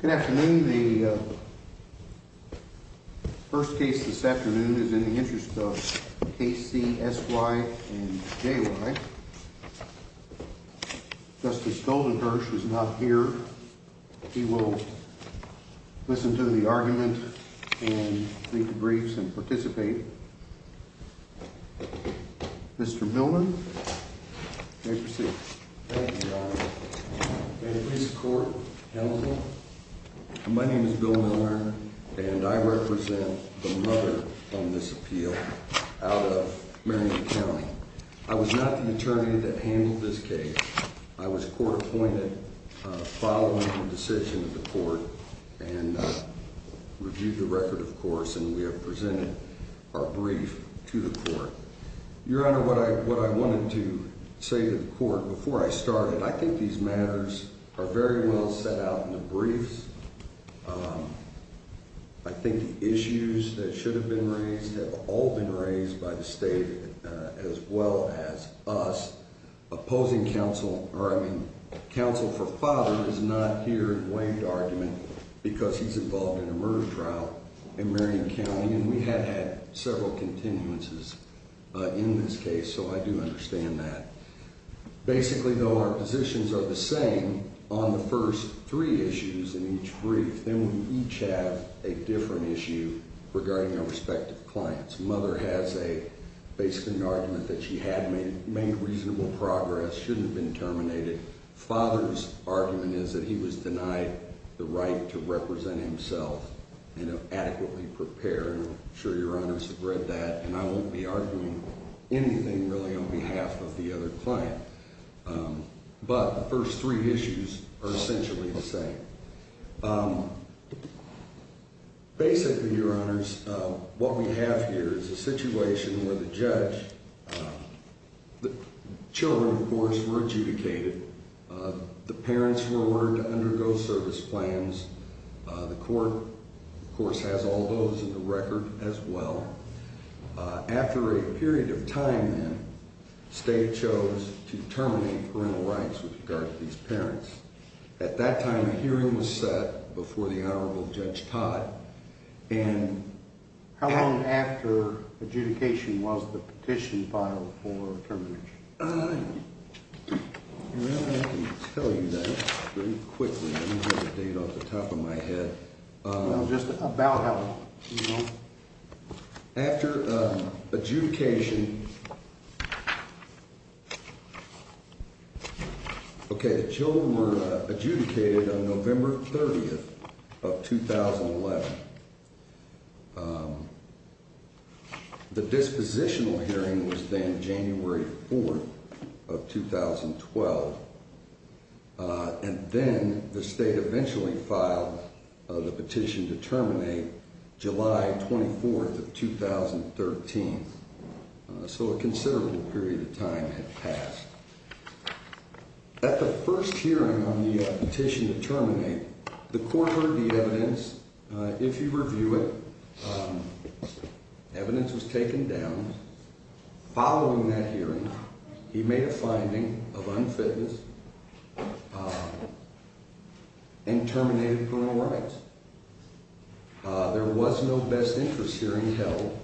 Good afternoon. The first case this afternoon is in the interest of K.C., S.Y. and J.Y. Justice Goldenberg is not here. He will listen to the argument and read the briefs and participate. Mr. Milner, you may proceed. Thank you, Your Honor. May the police and court help me? My name is Bill Milner and I represent the mother of this appeal out of Marion County. I was not the attorney that handled this case. I was court appointed following the decision of the court and reviewed the record, of course, and we have presented our brief to the court. Your Honor, what I wanted to say to the court before I started, I think these matters are very well set out in the briefs. I think the issues that should have been raised have all been raised by the state as well as us. Opposing counsel, or I mean counsel for father, is not here to weigh the argument because he's involved in a murder trial in Marion County, and we have had several continuances in this case, so I do understand that. Basically, though, our positions are the same on the first three issues in each brief. Then we each have a different issue regarding our respective clients. Mother has a basic argument that she had made reasonable progress, shouldn't have been terminated. Father's argument is that he was denied the right to represent himself and adequately prepare, and I'm sure Your Honors have read that, and I won't be arguing anything really on behalf of the other client, but the first three issues are essentially the same. Basically, Your Honors, what we have here is a situation where the judge, the children, of course, were adjudicated. The parents were ordered to undergo service plans. The court, of course, has all those in the record as well. After a period of time, then, the state chose to terminate parental rights with regard to these parents. At that time, a hearing was set before the Honorable Judge Todd. And how long after adjudication was the petition filed for termination? I can tell you that very quickly. I don't have a date off the top of my head. Just about how long? After adjudication, okay, the children were adjudicated on November 30th of 2011. The dispositional hearing was then January 4th of 2012. And then the state eventually filed the petition to terminate July 24th of 2013. So a considerable period of time had passed. At the first hearing on the petition to terminate, the court heard the evidence. If you review it, evidence was taken down. Following that hearing, he made a finding of unfitness and terminated parental rights. There was no best interest hearing held.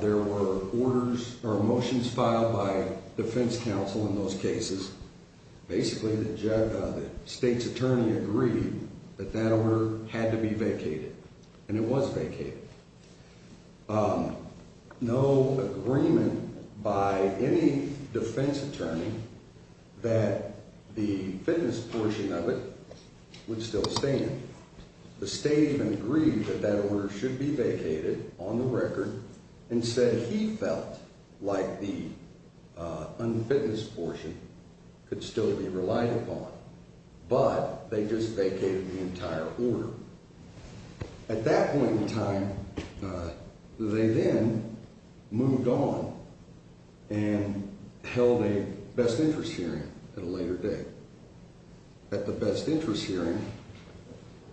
There were orders or motions filed by defense counsel in those cases. Basically, the state's attorney agreed that that order had to be vacated. And it was vacated. No agreement by any defense attorney that the fitness portion of it would still stand. The state even agreed that that order should be vacated on the record. Instead, he felt like the unfitness portion could still be relied upon. But they just vacated the entire order. At that point in time, they then moved on and held a best interest hearing at a later date. At the best interest hearing,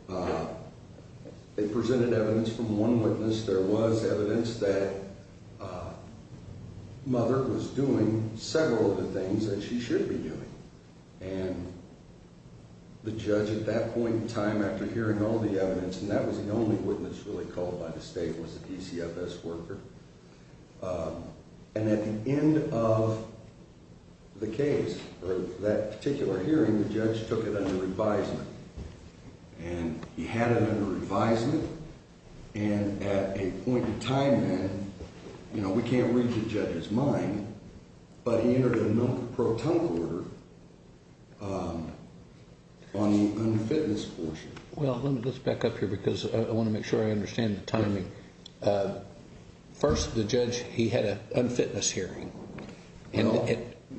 they presented evidence from one witness. There was evidence that Mother was doing several of the things that she should be doing. The judge at that point in time, after hearing all the evidence, and that was the only witness really called by the state, was the DCFS worker. And at the end of the case, or that particular hearing, the judge took it under revisement. And he had it under revisement. And at a point in time then, you know, we can't read the judge's mind. But he entered a milk pro tonic order on the unfitness portion. Well, let me just back up here because I want to make sure I understand the timing. First, the judge, he had an unfitness hearing. Well,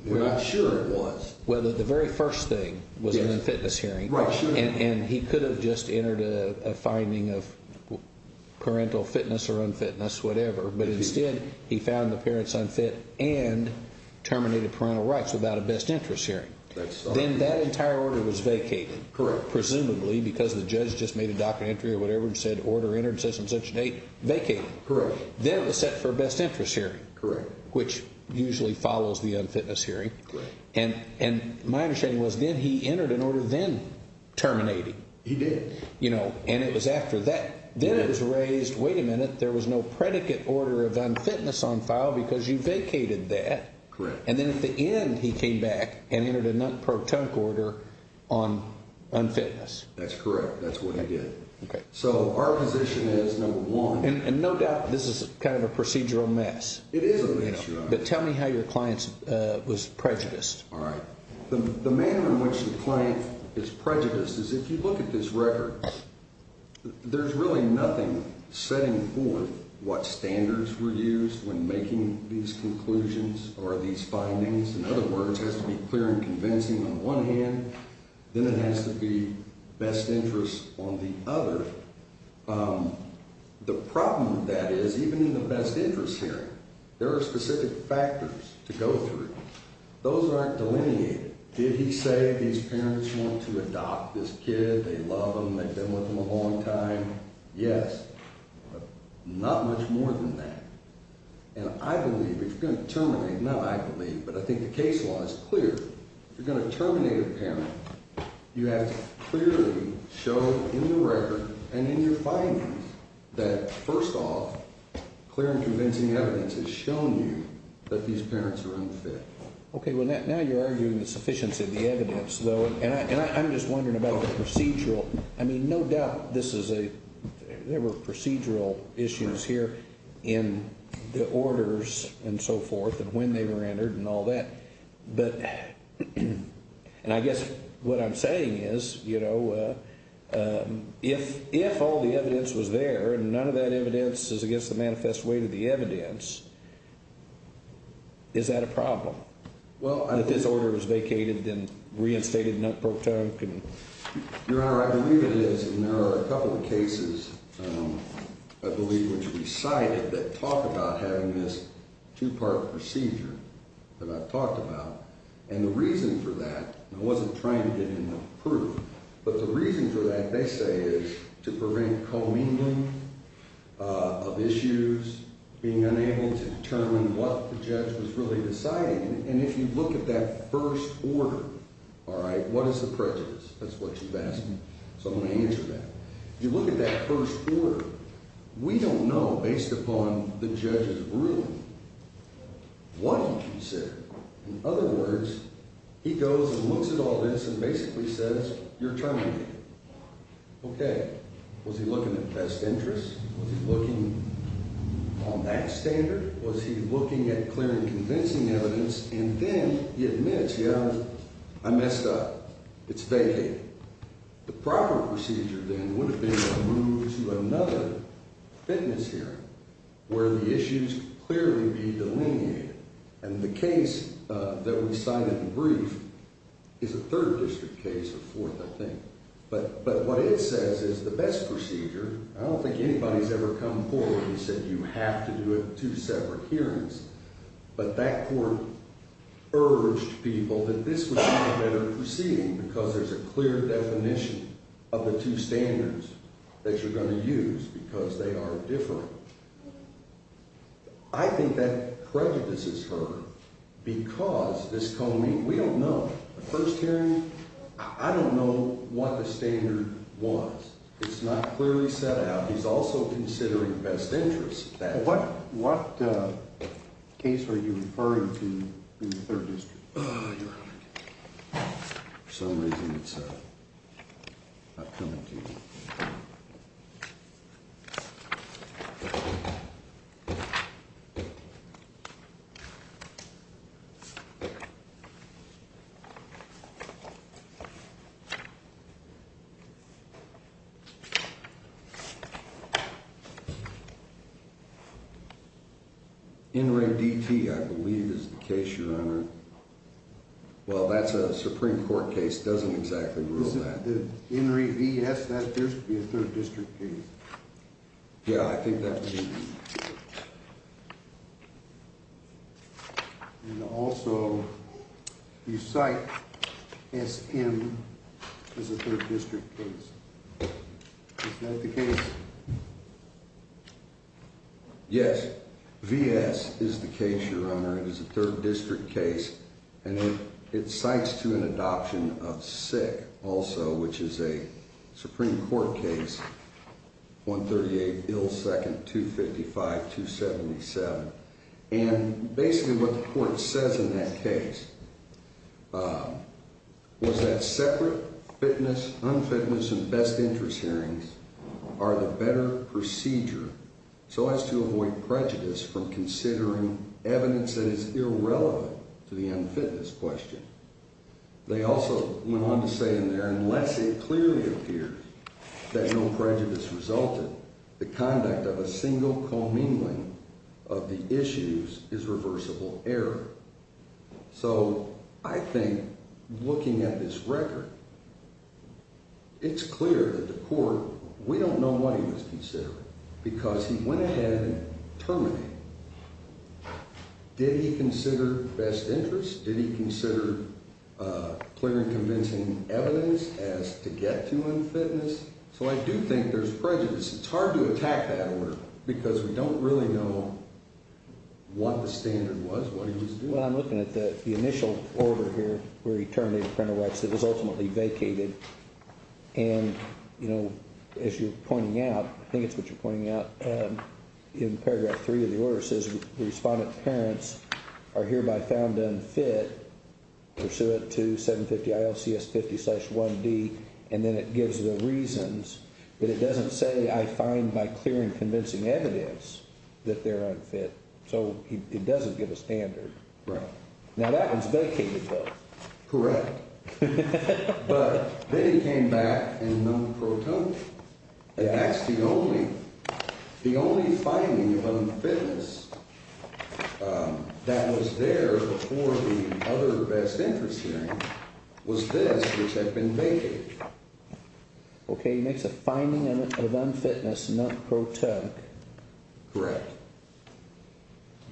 we're not sure it was. Well, the very first thing was an unfitness hearing. Right. And he could have just entered a finding of parental fitness or unfitness, whatever. But instead, he found the parents unfit and terminated parental rights without a best interest hearing. Then that entire order was vacated. Correct. Presumably because the judge just made a docket entry or whatever and said order entered, says some such date, vacated. Correct. Then it was set for a best interest hearing. Correct. Which usually follows the unfitness hearing. Correct. And my understanding was then he entered an order then terminating. He did. You know, and it was after that. Then it was raised, wait a minute, there was no predicate order of unfitness on file because you vacated that. Correct. And then at the end, he came back and entered a non-protonic order on unfitness. That's correct. That's what he did. Okay. So our position is, number one. And no doubt this is kind of a procedural mess. It is a mess, Your Honor. But tell me how your client was prejudiced. All right. The manner in which the client is prejudiced is if you look at this record, there's really nothing setting forth what standards were used when making these conclusions or these findings. In other words, it has to be clear and convincing on one hand. Then it has to be best interest on the other. The problem with that is even in the best interest hearing, there are specific factors to go through. Those aren't delineated. Did he say these parents want to adopt this kid, they love him, they've been with him a long time? Yes. But not much more than that. And I believe if you're going to terminate, not I believe, but I think the case law is clear. If you're going to terminate a parent, you have to clearly show in the record and in your findings that, first off, clear and convincing evidence has shown you that these parents are unfit. Okay. Well, now you're arguing the sufficiency of the evidence, though. And I'm just wondering about the procedural. I mean, no doubt this is a – there were procedural issues here in the orders and so forth and when they were entered and all that. But – and I guess what I'm saying is, you know, if all the evidence was there and none of that evidence is against the manifest way to the evidence, is that a problem? Well, I – If this order was vacated, then reinstated, not pro tonque and – Your Honor, I believe it is, and there are a couple of cases, I believe, which we cited that talk about having this two-part procedure that I've talked about. And the reason for that – and I wasn't trying to get enough proof – but the reason for that, they say, is to prevent co-mingling of issues, being unable to determine what the judge was really deciding. And if you look at that first order, all right, what is the prejudice? That's what you've asked me, so I'm going to answer that. If you look at that first order, we don't know, based upon the judge's ruling, what he considered. In other words, he goes and looks at all this and basically says, you're terminating it. Okay. Was he looking at best interest? Was he looking on that standard? Was he looking at clear and convincing evidence? And then he admits, yeah, I messed up. It's vacated. The proper procedure, then, would have been to move to another fitness hearing where the issues clearly be delineated. And the case that we cited in brief is a third district case or fourth, I think. But what it says is the best procedure – I don't think anybody's ever come forward and said you have to do it in two separate hearings. But that court urged people that this would be a better proceeding because there's a clear definition of the two standards that you're going to use because they are different. I think that prejudices her because this co-meeting – we don't know. The first hearing, I don't know what the standard was. It's not clearly set out. He's also considering best interest. What case are you referring to in the third district? For some reason, it's not coming to me. NREDT, I believe, is the case, Your Honor. Well, that's a Supreme Court case. It doesn't exactly rule that. The NREDS, that appears to be a third district case. Yeah, I think that would be. And also, you cite SM as a third district case. Is that the case? Yes. VS is the case, Your Honor. It is a third district case. And it cites to an adoption of SICK also, which is a Supreme Court case, 138, Ill Second, 255, 277. And basically what the court says in that case was that separate fitness, unfitness, and best interest hearings are the better procedure so as to avoid prejudice from considering evidence that is irrelevant to the unfitness question. They also went on to say in there, unless it clearly appears that no prejudice resulted, the conduct of a single commingling of the issues is reversible error. So I think looking at this record, it's clear that the court, we don't know what he was considering because he went ahead and terminated. Did he consider best interest? Did he consider clear and convincing evidence as to get to unfitness? So I do think there's prejudice. It's hard to attack that order because we don't really know what the standard was, what he was doing. Well, I'm looking at the initial order here where he terminated parental rights that was ultimately vacated. And, you know, as you're pointing out, I think it's what you're pointing out in paragraph three of the order says the respondent's parents are hereby found unfit pursuant to 750 ILCS 50 slash 1D. And then it gives the reasons that it doesn't say I find by clear and convincing evidence that they're unfit. So it doesn't give a standard. Right. Now that was vacated though. Correct. But then he came back and that's the only the only finding of unfitness that was there for the other best interest hearing was this which had been vacated. OK, he makes a finding of unfitness. Correct.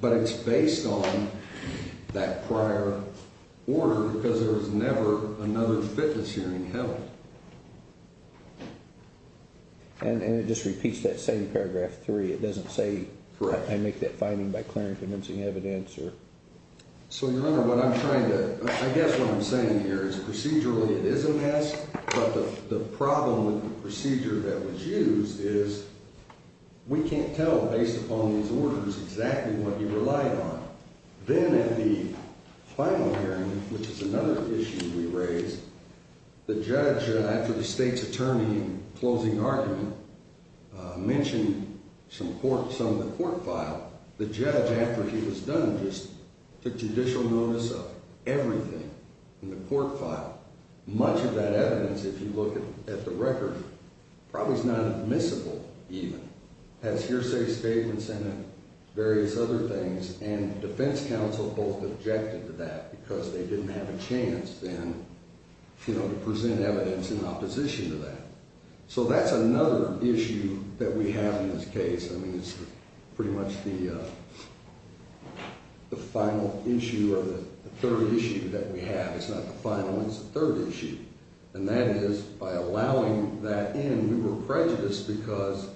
But it's based on that prior order because there was never another fitness hearing held. And it just repeats that same paragraph three. It doesn't say I make that finding by clear and convincing evidence. Sure. So, Your Honor, what I'm trying to I guess what I'm saying here is procedurally it is a mess. But the problem with the procedure that was used is we can't tell based upon these orders exactly what he relied on. Then at the final hearing, which is another issue we raised, the judge, after the state's attorney closing argument, mentioned some court some of the court file. The judge, after he was done, just took judicial notice of everything in the court file. Much of that evidence, if you look at the record, probably is not admissible even. As hearsay statements and various other things and defense counsel both objected to that because they didn't have a chance then to present evidence in opposition to that. So that's another issue that we have in this case. I mean, it's pretty much the final issue or the third issue that we have. It's not the final. It's the third issue. And that is by allowing that in, we were prejudiced because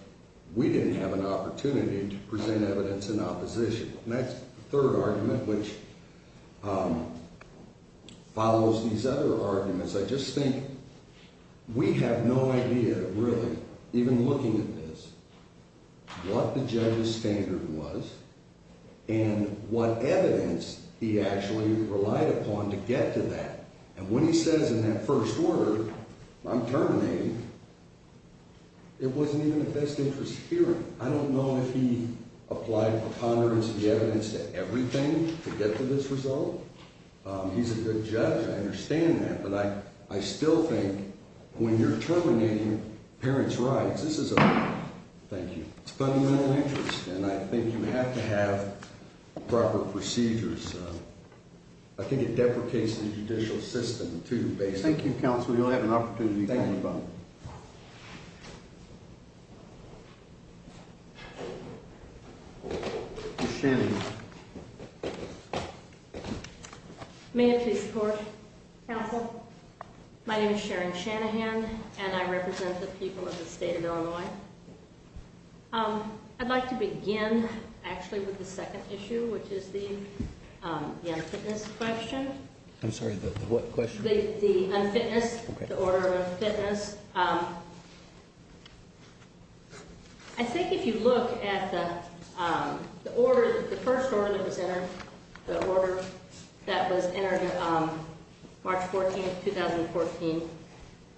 we didn't have an opportunity to present evidence in opposition. And that's the third argument, which follows these other arguments. I just think we have no idea, really, even looking at this, what the judge's standard was and what evidence he actually relied upon to get to that. And when he says in that first order, I'm terminating, it wasn't even the best interest of hearing. I don't know if he applied preponderance of the evidence to everything to get to this result. He's a good judge. I understand that. But I still think when you're terminating parents' rights, this is a fundamental interest. And I think you have to have proper procedures. I think it deprecates the judicial system, too, basically. Thank you, counsel. You'll have an opportunity to talk about it. Thank you. May I please report, counsel? My name is Sharon Shanahan, and I represent the people of the state of Illinois. I'd like to begin, actually, with the second issue, which is the unfitness question. I'm sorry, the what question? The unfitness, the order of unfitness. I think if you look at the order, the first order that was entered, the order that was entered March 14, 2014,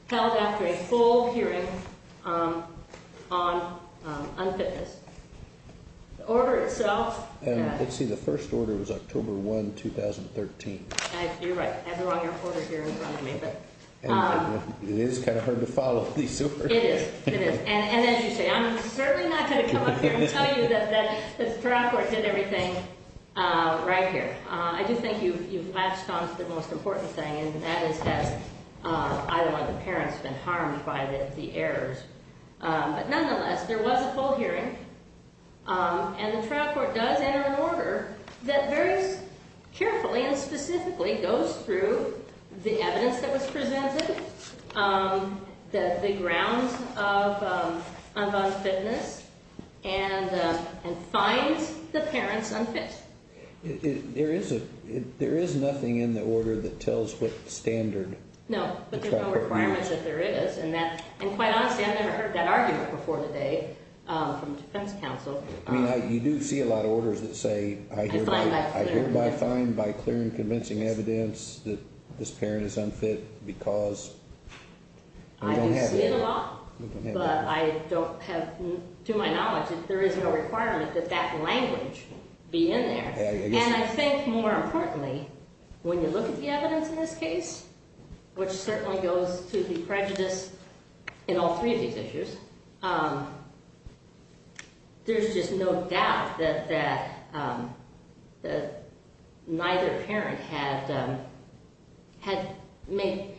held after a full hearing on unfitness. The order itself. Let's see. The first order was October 1, 2013. You're right. I have the wrong order here in front of me. It is kind of hard to follow these orders. It is. It is. And as you say, I'm certainly not going to come up here and tell you that the trial court did everything right here. I do think you've latched on to the most important thing, and that is that I, like the parents, have been harmed by the errors. But nonetheless, there was a full hearing, and the trial court does enter an order that very carefully and specifically goes through the evidence that was presented, the grounds of unfitness, and finds the parents unfit. There is nothing in the order that tells what standard the trial court used. And quite honestly, I've never heard that argument before today from defense counsel. I mean, you do see a lot of orders that say, I hereby find by clear and convincing evidence that this parent is unfit because we don't have it. I do see it a lot, but I don't have, to my knowledge, there is no requirement that that language be in there. And I think more importantly, when you look at the evidence in this case, which certainly goes to the prejudice in all three of these issues, there's just no doubt that neither parent had made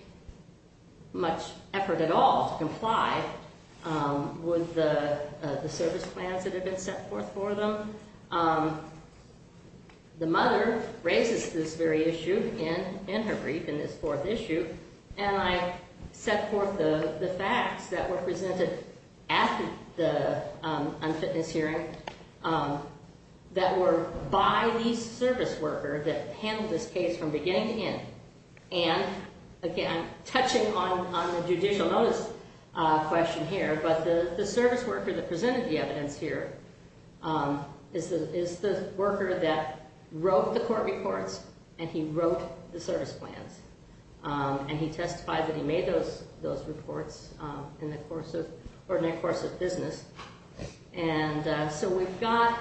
much effort at all to comply with the service plans that had been set forth for them. The mother raises this very issue in her brief, in this fourth issue, and I set forth the facts that were presented after the unfitness hearing that were by the service worker that handled this case from beginning to end. And again, touching on the judicial notice question here, but the service worker that presented the evidence here is the worker that wrote the court reports and he wrote the service plans. And he testified that he made those reports in the course of business. And so we've got,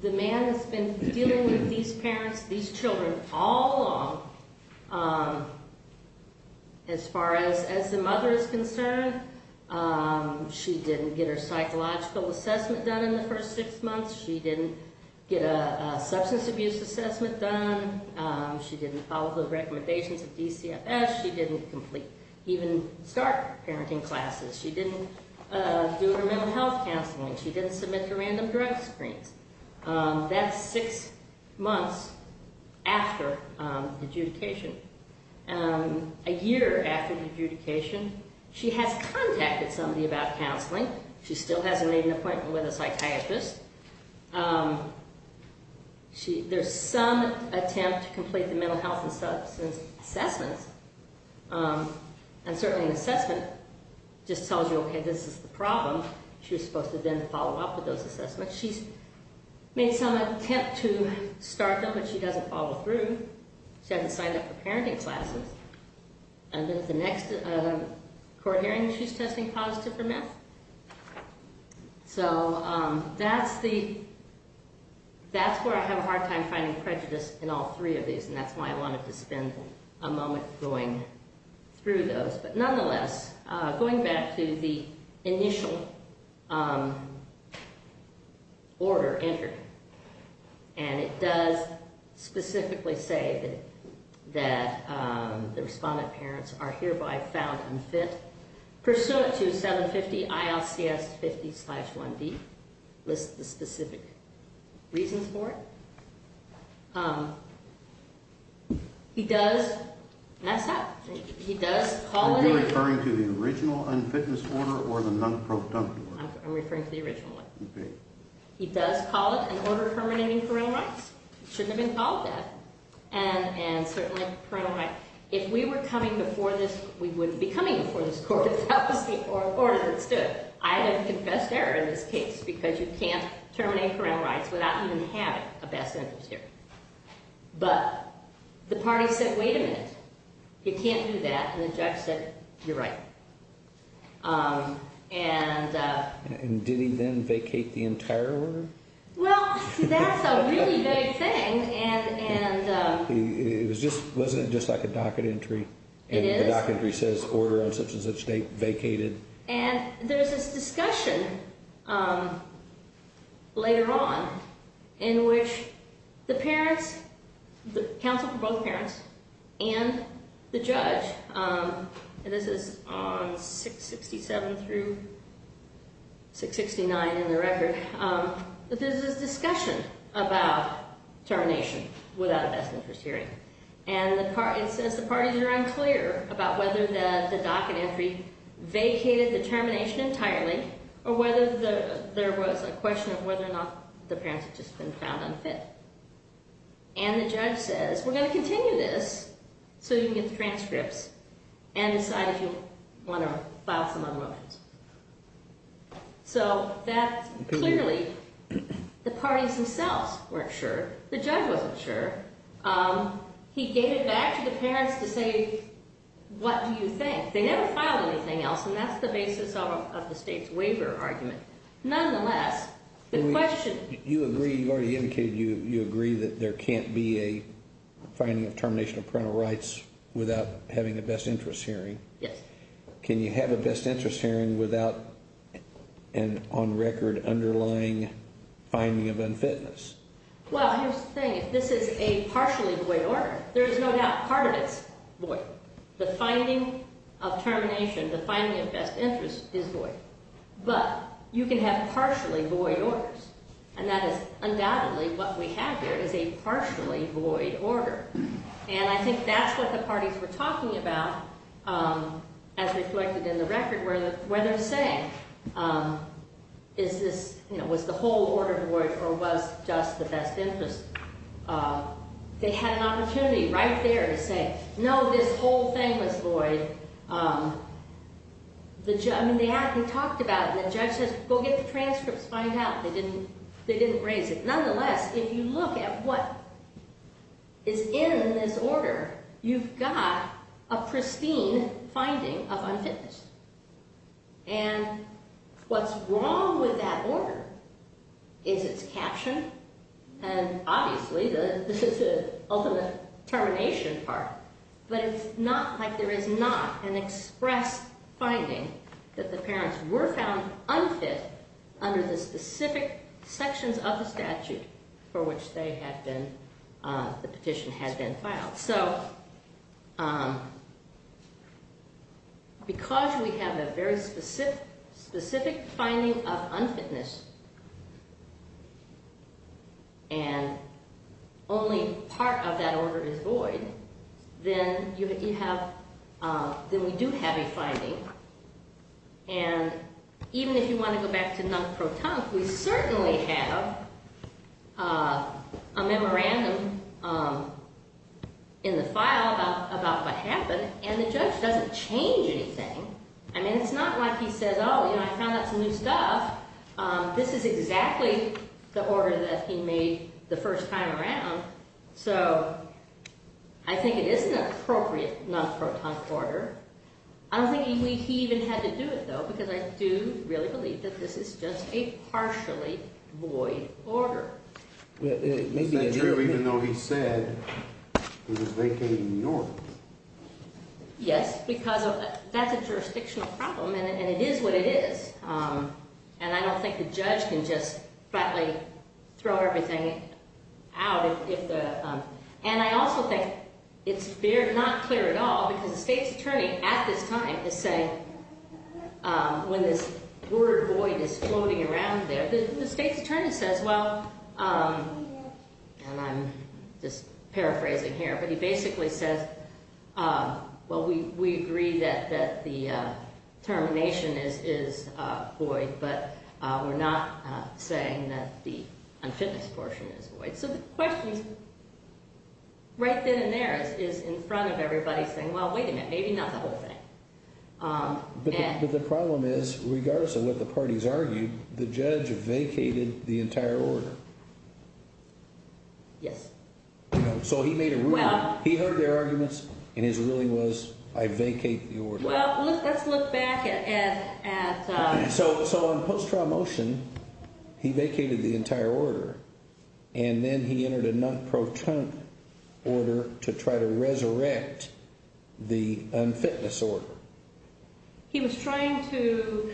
the man has been dealing with these parents, these children all along, as far as the mother is concerned. She didn't get her psychological assessment done in the first six months. She didn't get a substance abuse assessment done. She didn't follow the recommendations of DCFS. She didn't complete, even start parenting classes. She didn't do her mental health counseling. She didn't submit her random drug screens. That's six months after adjudication. A year after adjudication, she has contacted somebody about counseling. She still hasn't made an appointment with a psychiatrist. There's some attempt to complete the mental health and substance assessments. And certainly an assessment just tells you, okay, this is the problem. She was supposed to then follow up with those assessments. She's made some attempt to start them, but she doesn't follow through. She hasn't signed up for parenting classes. And then at the next court hearing, she's testing positive for meth. So that's where I have a hard time finding prejudice in all three of these, and that's why I wanted to spend a moment going through those. But nonetheless, going back to the initial order entered, and it does specifically say that the respondent parents are hereby found unfit. Pursuant to 750-ILCS50-1B, list the specific reasons for it. He does mess up. He does call it an order. Are you referring to the original unfitness order or the non-productive order? I'm referring to the original one. Okay. He does call it an order permitting parental rights. It shouldn't have been called that. And certainly parental rights. If we were coming before this, we wouldn't be coming before this court. That was the order that stood. I have confessed error in this case because you can't terminate parental rights without even having a best interest hearing. But the party said, wait a minute. You can't do that. And the judge said, you're right. And did he then vacate the entire order? Well, that's a really big thing. Wasn't it just like a docket entry? It is. The docket entry says order on such and such date vacated. And there's this discussion later on in which the parents, the counsel for both parents and the judge, and this is on 667 through 669 in the record, but there's this discussion about termination without a best interest hearing. And it says the parties are unclear about whether the docket entry vacated the termination entirely or whether there was a question of whether or not the parents had just been found unfit. And the judge says, we're going to continue this so you can get the transcripts and decide if you want to file some other motions. So that clearly the parties themselves weren't sure. The judge wasn't sure. He gave it back to the parents to say, what do you think? They never filed anything else. And that's the basis of the state's waiver argument. Nonetheless, the question. You agree. You already indicated you agree that there can't be a finding of termination of parental rights without having a best interest hearing. Yes. Can you have a best interest hearing without an on record underlying finding of unfitness? Well, here's the thing. If this is a partially void order, there is no doubt part of it is void. The finding of termination, the finding of best interest is void. But you can have partially void orders, and that is undoubtedly what we have here is a partially void order. And I think that's what the parties were talking about as reflected in the record where they're saying, is this, you know, was the whole order void or was just the best interest? They had an opportunity right there to say, no, this whole thing was void. I mean, they talked about it. The judge says, go get the transcripts, find out. They didn't raise it. Nonetheless, if you look at what is in this order, you've got a pristine finding of unfitness. And what's wrong with that order is it's captioned, and obviously this is the ultimate termination part. But it's not like there is not an express finding that the parents were found unfit under the specific sections of the statute for which they had been, the petition had been filed. So because we have a very specific finding of unfitness, and only part of that order is void, then you have, then we do have a finding. And even if you want to go back to non-protunct, we certainly have a memorandum in the file about what happened, and the judge doesn't change anything. I mean, it's not like he says, oh, you know, I found out some new stuff. This is exactly the order that he made the first time around. So I think it is an appropriate non-protunct order. I don't think he even had to do it, though, because I do really believe that this is just a partially void order. It may be true even though he said it was vacating New Orleans. Yes, because that's a jurisdictional problem, and it is what it is. And I don't think the judge can just flatly throw everything out. And I also think it's not clear at all, because the state's attorney at this time is saying, when this word void is floating around there, the state's attorney says, well, and I'm just paraphrasing here, but he basically says, well, we agree that the termination is void, but we're not saying that the unfitness portion is void. So the question right then and there is in front of everybody saying, well, wait a minute, maybe not the whole thing. But the problem is, regardless of what the parties argued, the judge vacated the entire order. Yes. So he made a ruling. He heard their arguments, and his ruling was, I vacate the order. Well, let's look back at – So on post-trial motion, he vacated the entire order, and then he entered a non-proton order to try to resurrect the unfitness order. He was trying to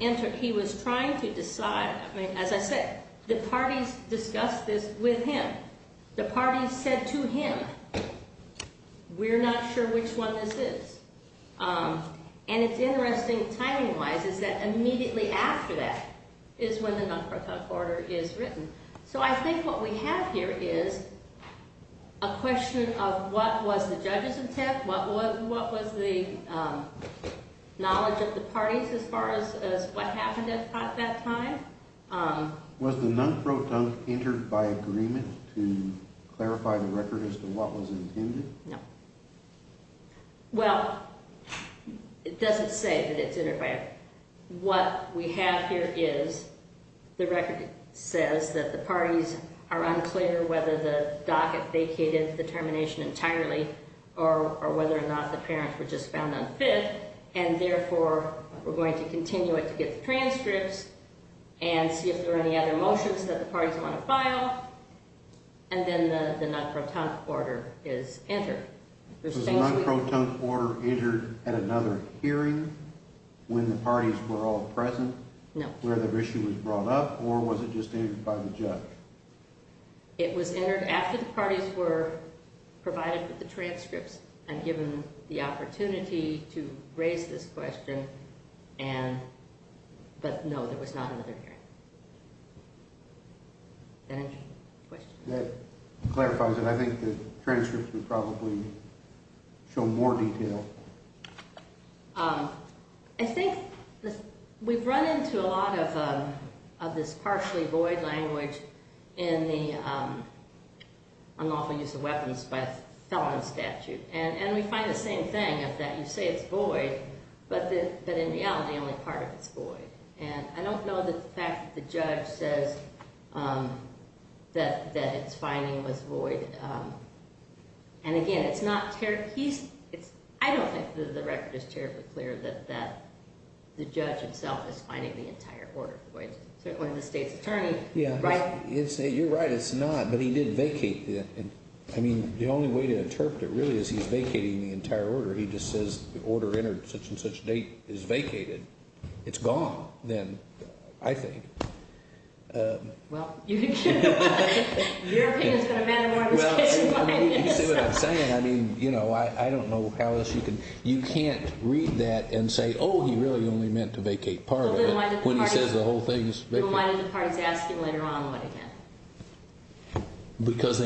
enter – he was trying to decide. I mean, as I said, the parties discussed this with him. The parties said to him, we're not sure which one this is. And it's interesting, timing-wise, is that immediately after that is when the non-proton order is written. So I think what we have here is a question of what was the judge's intent, what was the knowledge of the parties as far as what happened at that time. Was the non-proton entered by agreement to clarify the record as to what was intended? No. Well, it doesn't say that it's entered by agreement. What we have here is the record says that the parties are unclear whether the docket vacated the termination entirely or whether or not the parents were just found unfit, and therefore we're going to continue it to get the transcripts and see if there are any other motions that the parties want to file, and then the non-proton order is entered. Was the non-proton order entered at another hearing when the parties were all present? No. Where the issue was brought up, or was it just entered by the judge? It was entered after the parties were provided with the transcripts and given the opportunity to raise this question, but no, there was not another hearing. Does that answer your question? That clarifies it. I think the transcripts would probably show more detail. I think we've run into a lot of this partially void language in the unlawful use of weapons by a felon statute, and we find the same thing of that. You say it's void, but in reality, only part of it's void, and I don't know that the fact that the judge says that it's finding was void, and again, I don't think the record is terribly clear that the judge himself is finding the entire order void, certainly the state's attorney. You're right, it's not, but he did vacate it. I mean, the only way to interpret it really is he's vacating the entire order. He just says the order entered at such and such date is vacated. It's gone then, I think. Well, your opinion is going to matter more than this case. Well, you see what I'm saying. I mean, you know, I don't know how else you can. You can't read that and say, oh, he really only meant to vacate part of it when he says the whole thing is vacant. Well, then why did the parties ask him later on what he meant? Because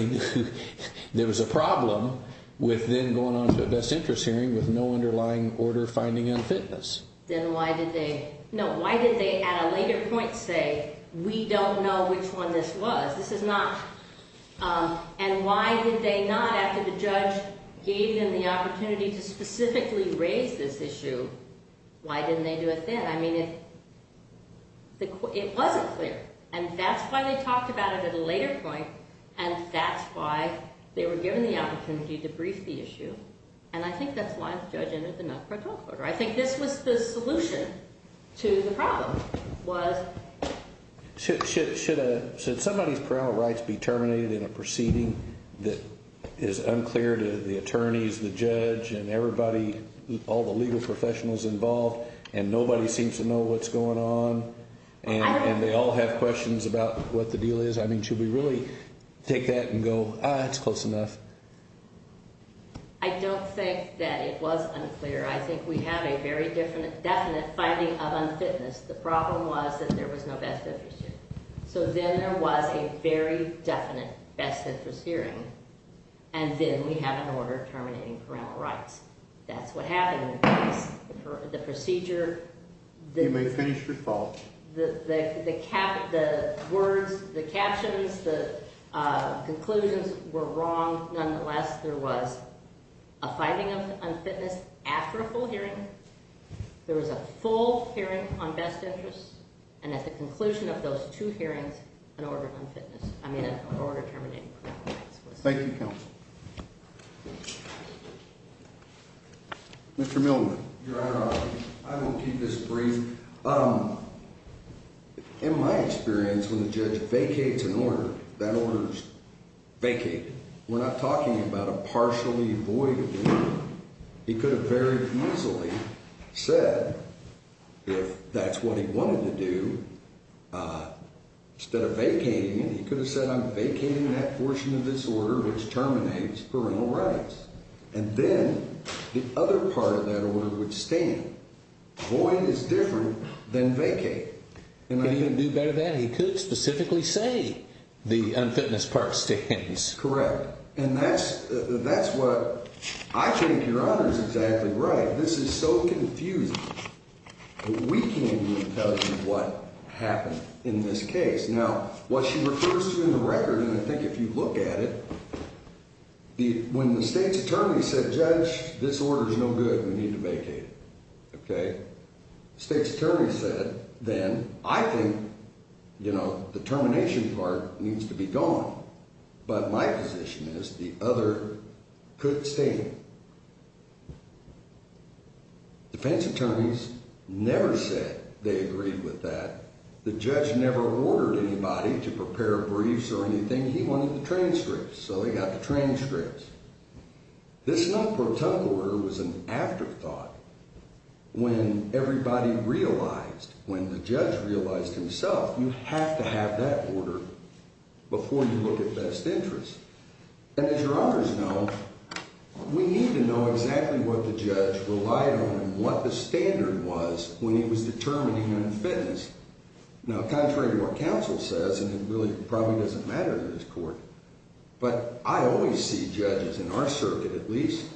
there was a problem with then going on to a best interest hearing with no underlying order finding in fitness. Then why did they, no, why did they at a later point say, we don't know which one this was? This is not, and why did they not, after the judge gave them the opportunity to specifically raise this issue, why didn't they do it then? I mean, it wasn't clear, and that's why they talked about it at a later point, and that's why they were given the opportunity to brief the issue, and I think that's why the judge entered the No Critical Order. I think this was the solution to the problem was. Should somebody's parole rights be terminated in a proceeding that is unclear to the attorneys, the judge, and everybody, all the legal professionals involved, and nobody seems to know what's going on, and they all have questions about what the deal is? I mean, should we really take that and go, ah, it's close enough? I don't think that it was unclear. I think we have a very definite finding of unfitness. The problem was that there was no best interest hearing. So then there was a very definite best interest hearing, and then we have an order terminating parole rights. That's what happened in the case. The procedure, the words, the captions, the conclusions were wrong. Nonetheless, there was a finding of unfitness after a full hearing. There was a full hearing on best interest, and at the conclusion of those two hearings, an order terminating parole rights. Thank you, counsel. Mr. Millman. Your Honor, I will keep this brief. In my experience, when the judge vacates an order, that order is vacated. We're not talking about a partially void order. He could have very easily said, if that's what he wanted to do, instead of vacating it, he could have said, I'm vacating that portion of this order which terminates parental rights. And then the other part of that order would stand. Void is different than vacate. Could he even do better than that? He could specifically say the unfitness part stands. Correct. And that's what I think Your Honor is exactly right. This is so confusing. We can't even tell you what happened in this case. Now, what she refers to in the record, and I think if you look at it, when the State's Attorney said, Judge, this order is no good. We need to vacate it. Okay? The State's Attorney said, then, I think, you know, the termination part needs to be gone. But my position is the other could stay. Defense attorneys never said they agreed with that. The judge never ordered anybody to prepare briefs or anything. He wanted the transcripts. So they got the transcripts. This non-protect order was an afterthought when everybody realized, when the judge realized himself, you have to have that order before you look at best interest. And as Your Honors know, we need to know exactly what the judge relied on and what the standard was when he was determining unfitness. Now, contrary to what counsel says, and it really probably doesn't matter in this court, but I always see judges, in our circuit at least,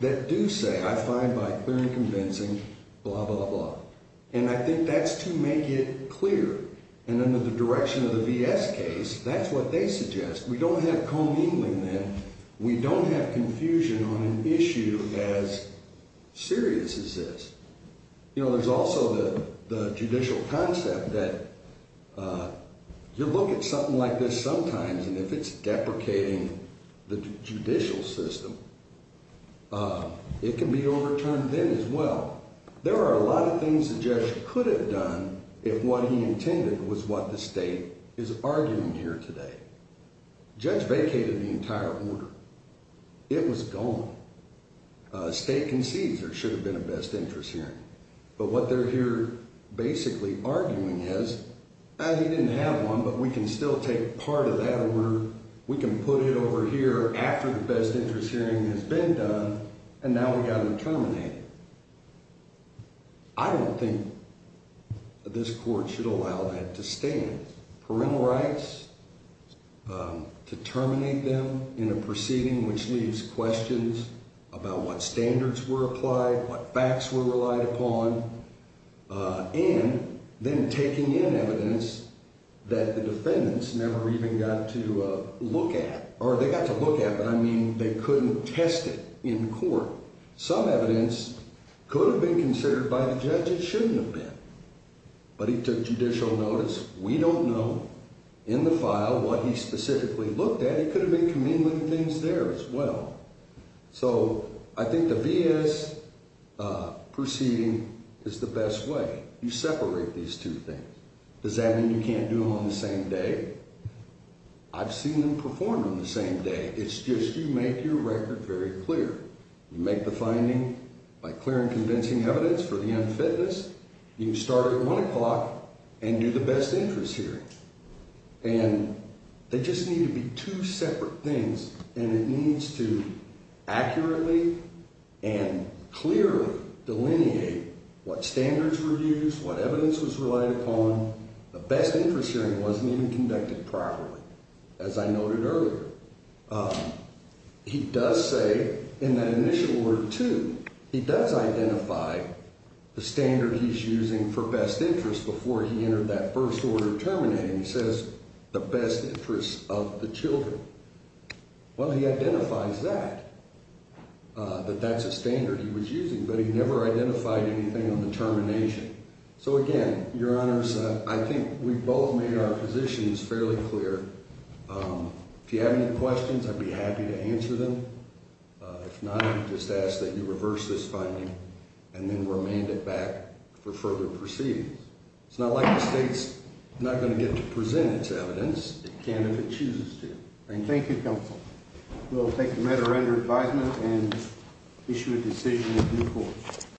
that do say, I find by clear and convincing, blah, blah, blah, blah. And I think that's to make it clear. And under the direction of the V.S. case, that's what they suggest. We don't have co-mingling then. We don't have confusion on an issue as serious as this. You know, there's also the judicial concept that you look at something like this sometimes, and if it's deprecating the judicial system, it can be overturned then as well. Now, there are a lot of things the judge could have done if what he intended was what the state is arguing here today. The judge vacated the entire order. It was gone. The state concedes there should have been a best interest hearing. But what they're here basically arguing is, he didn't have one, but we can still take part of that order, we can put it over here after the best interest hearing has been done, and now we've got to terminate it. I don't think this court should allow that to stand. Parental rights, to terminate them in a proceeding which leaves questions about what standards were applied, what facts were relied upon, and then taking in evidence that the defendants never even got to look at, but I mean they couldn't test it in court. Some evidence could have been considered by the judge. It shouldn't have been. But he took judicial notice. We don't know in the file what he specifically looked at. He could have been communing with things there as well. So I think the V.S. proceeding is the best way. You separate these two things. Does that mean you can't do them on the same day? I've seen them performed on the same day. It's just you make your record very clear. You make the finding by clearing convincing evidence for the unfitness. You start at 1 o'clock and do the best interest hearing. And they just need to be two separate things, and it needs to accurately and clearly delineate what standards were used, what evidence was relied upon. The best interest hearing wasn't even conducted properly, as I noted earlier. He does say in that initial Word 2, he does identify the standard he's using for best interest before he entered that first order terminating. He says the best interest of the children. Well, he identifies that, that that's a standard he was using, but he never identified anything on the termination. So, again, Your Honors, I think we've both made our positions fairly clear. If you have any questions, I'd be happy to answer them. If not, I would just ask that you reverse this finding and then remand it back for further proceedings. It's not like the state's not going to get to present its evidence. It can if it chooses to. Thank you. Thank you, Counsel. We'll take the matter under advisement and issue a decision in due course.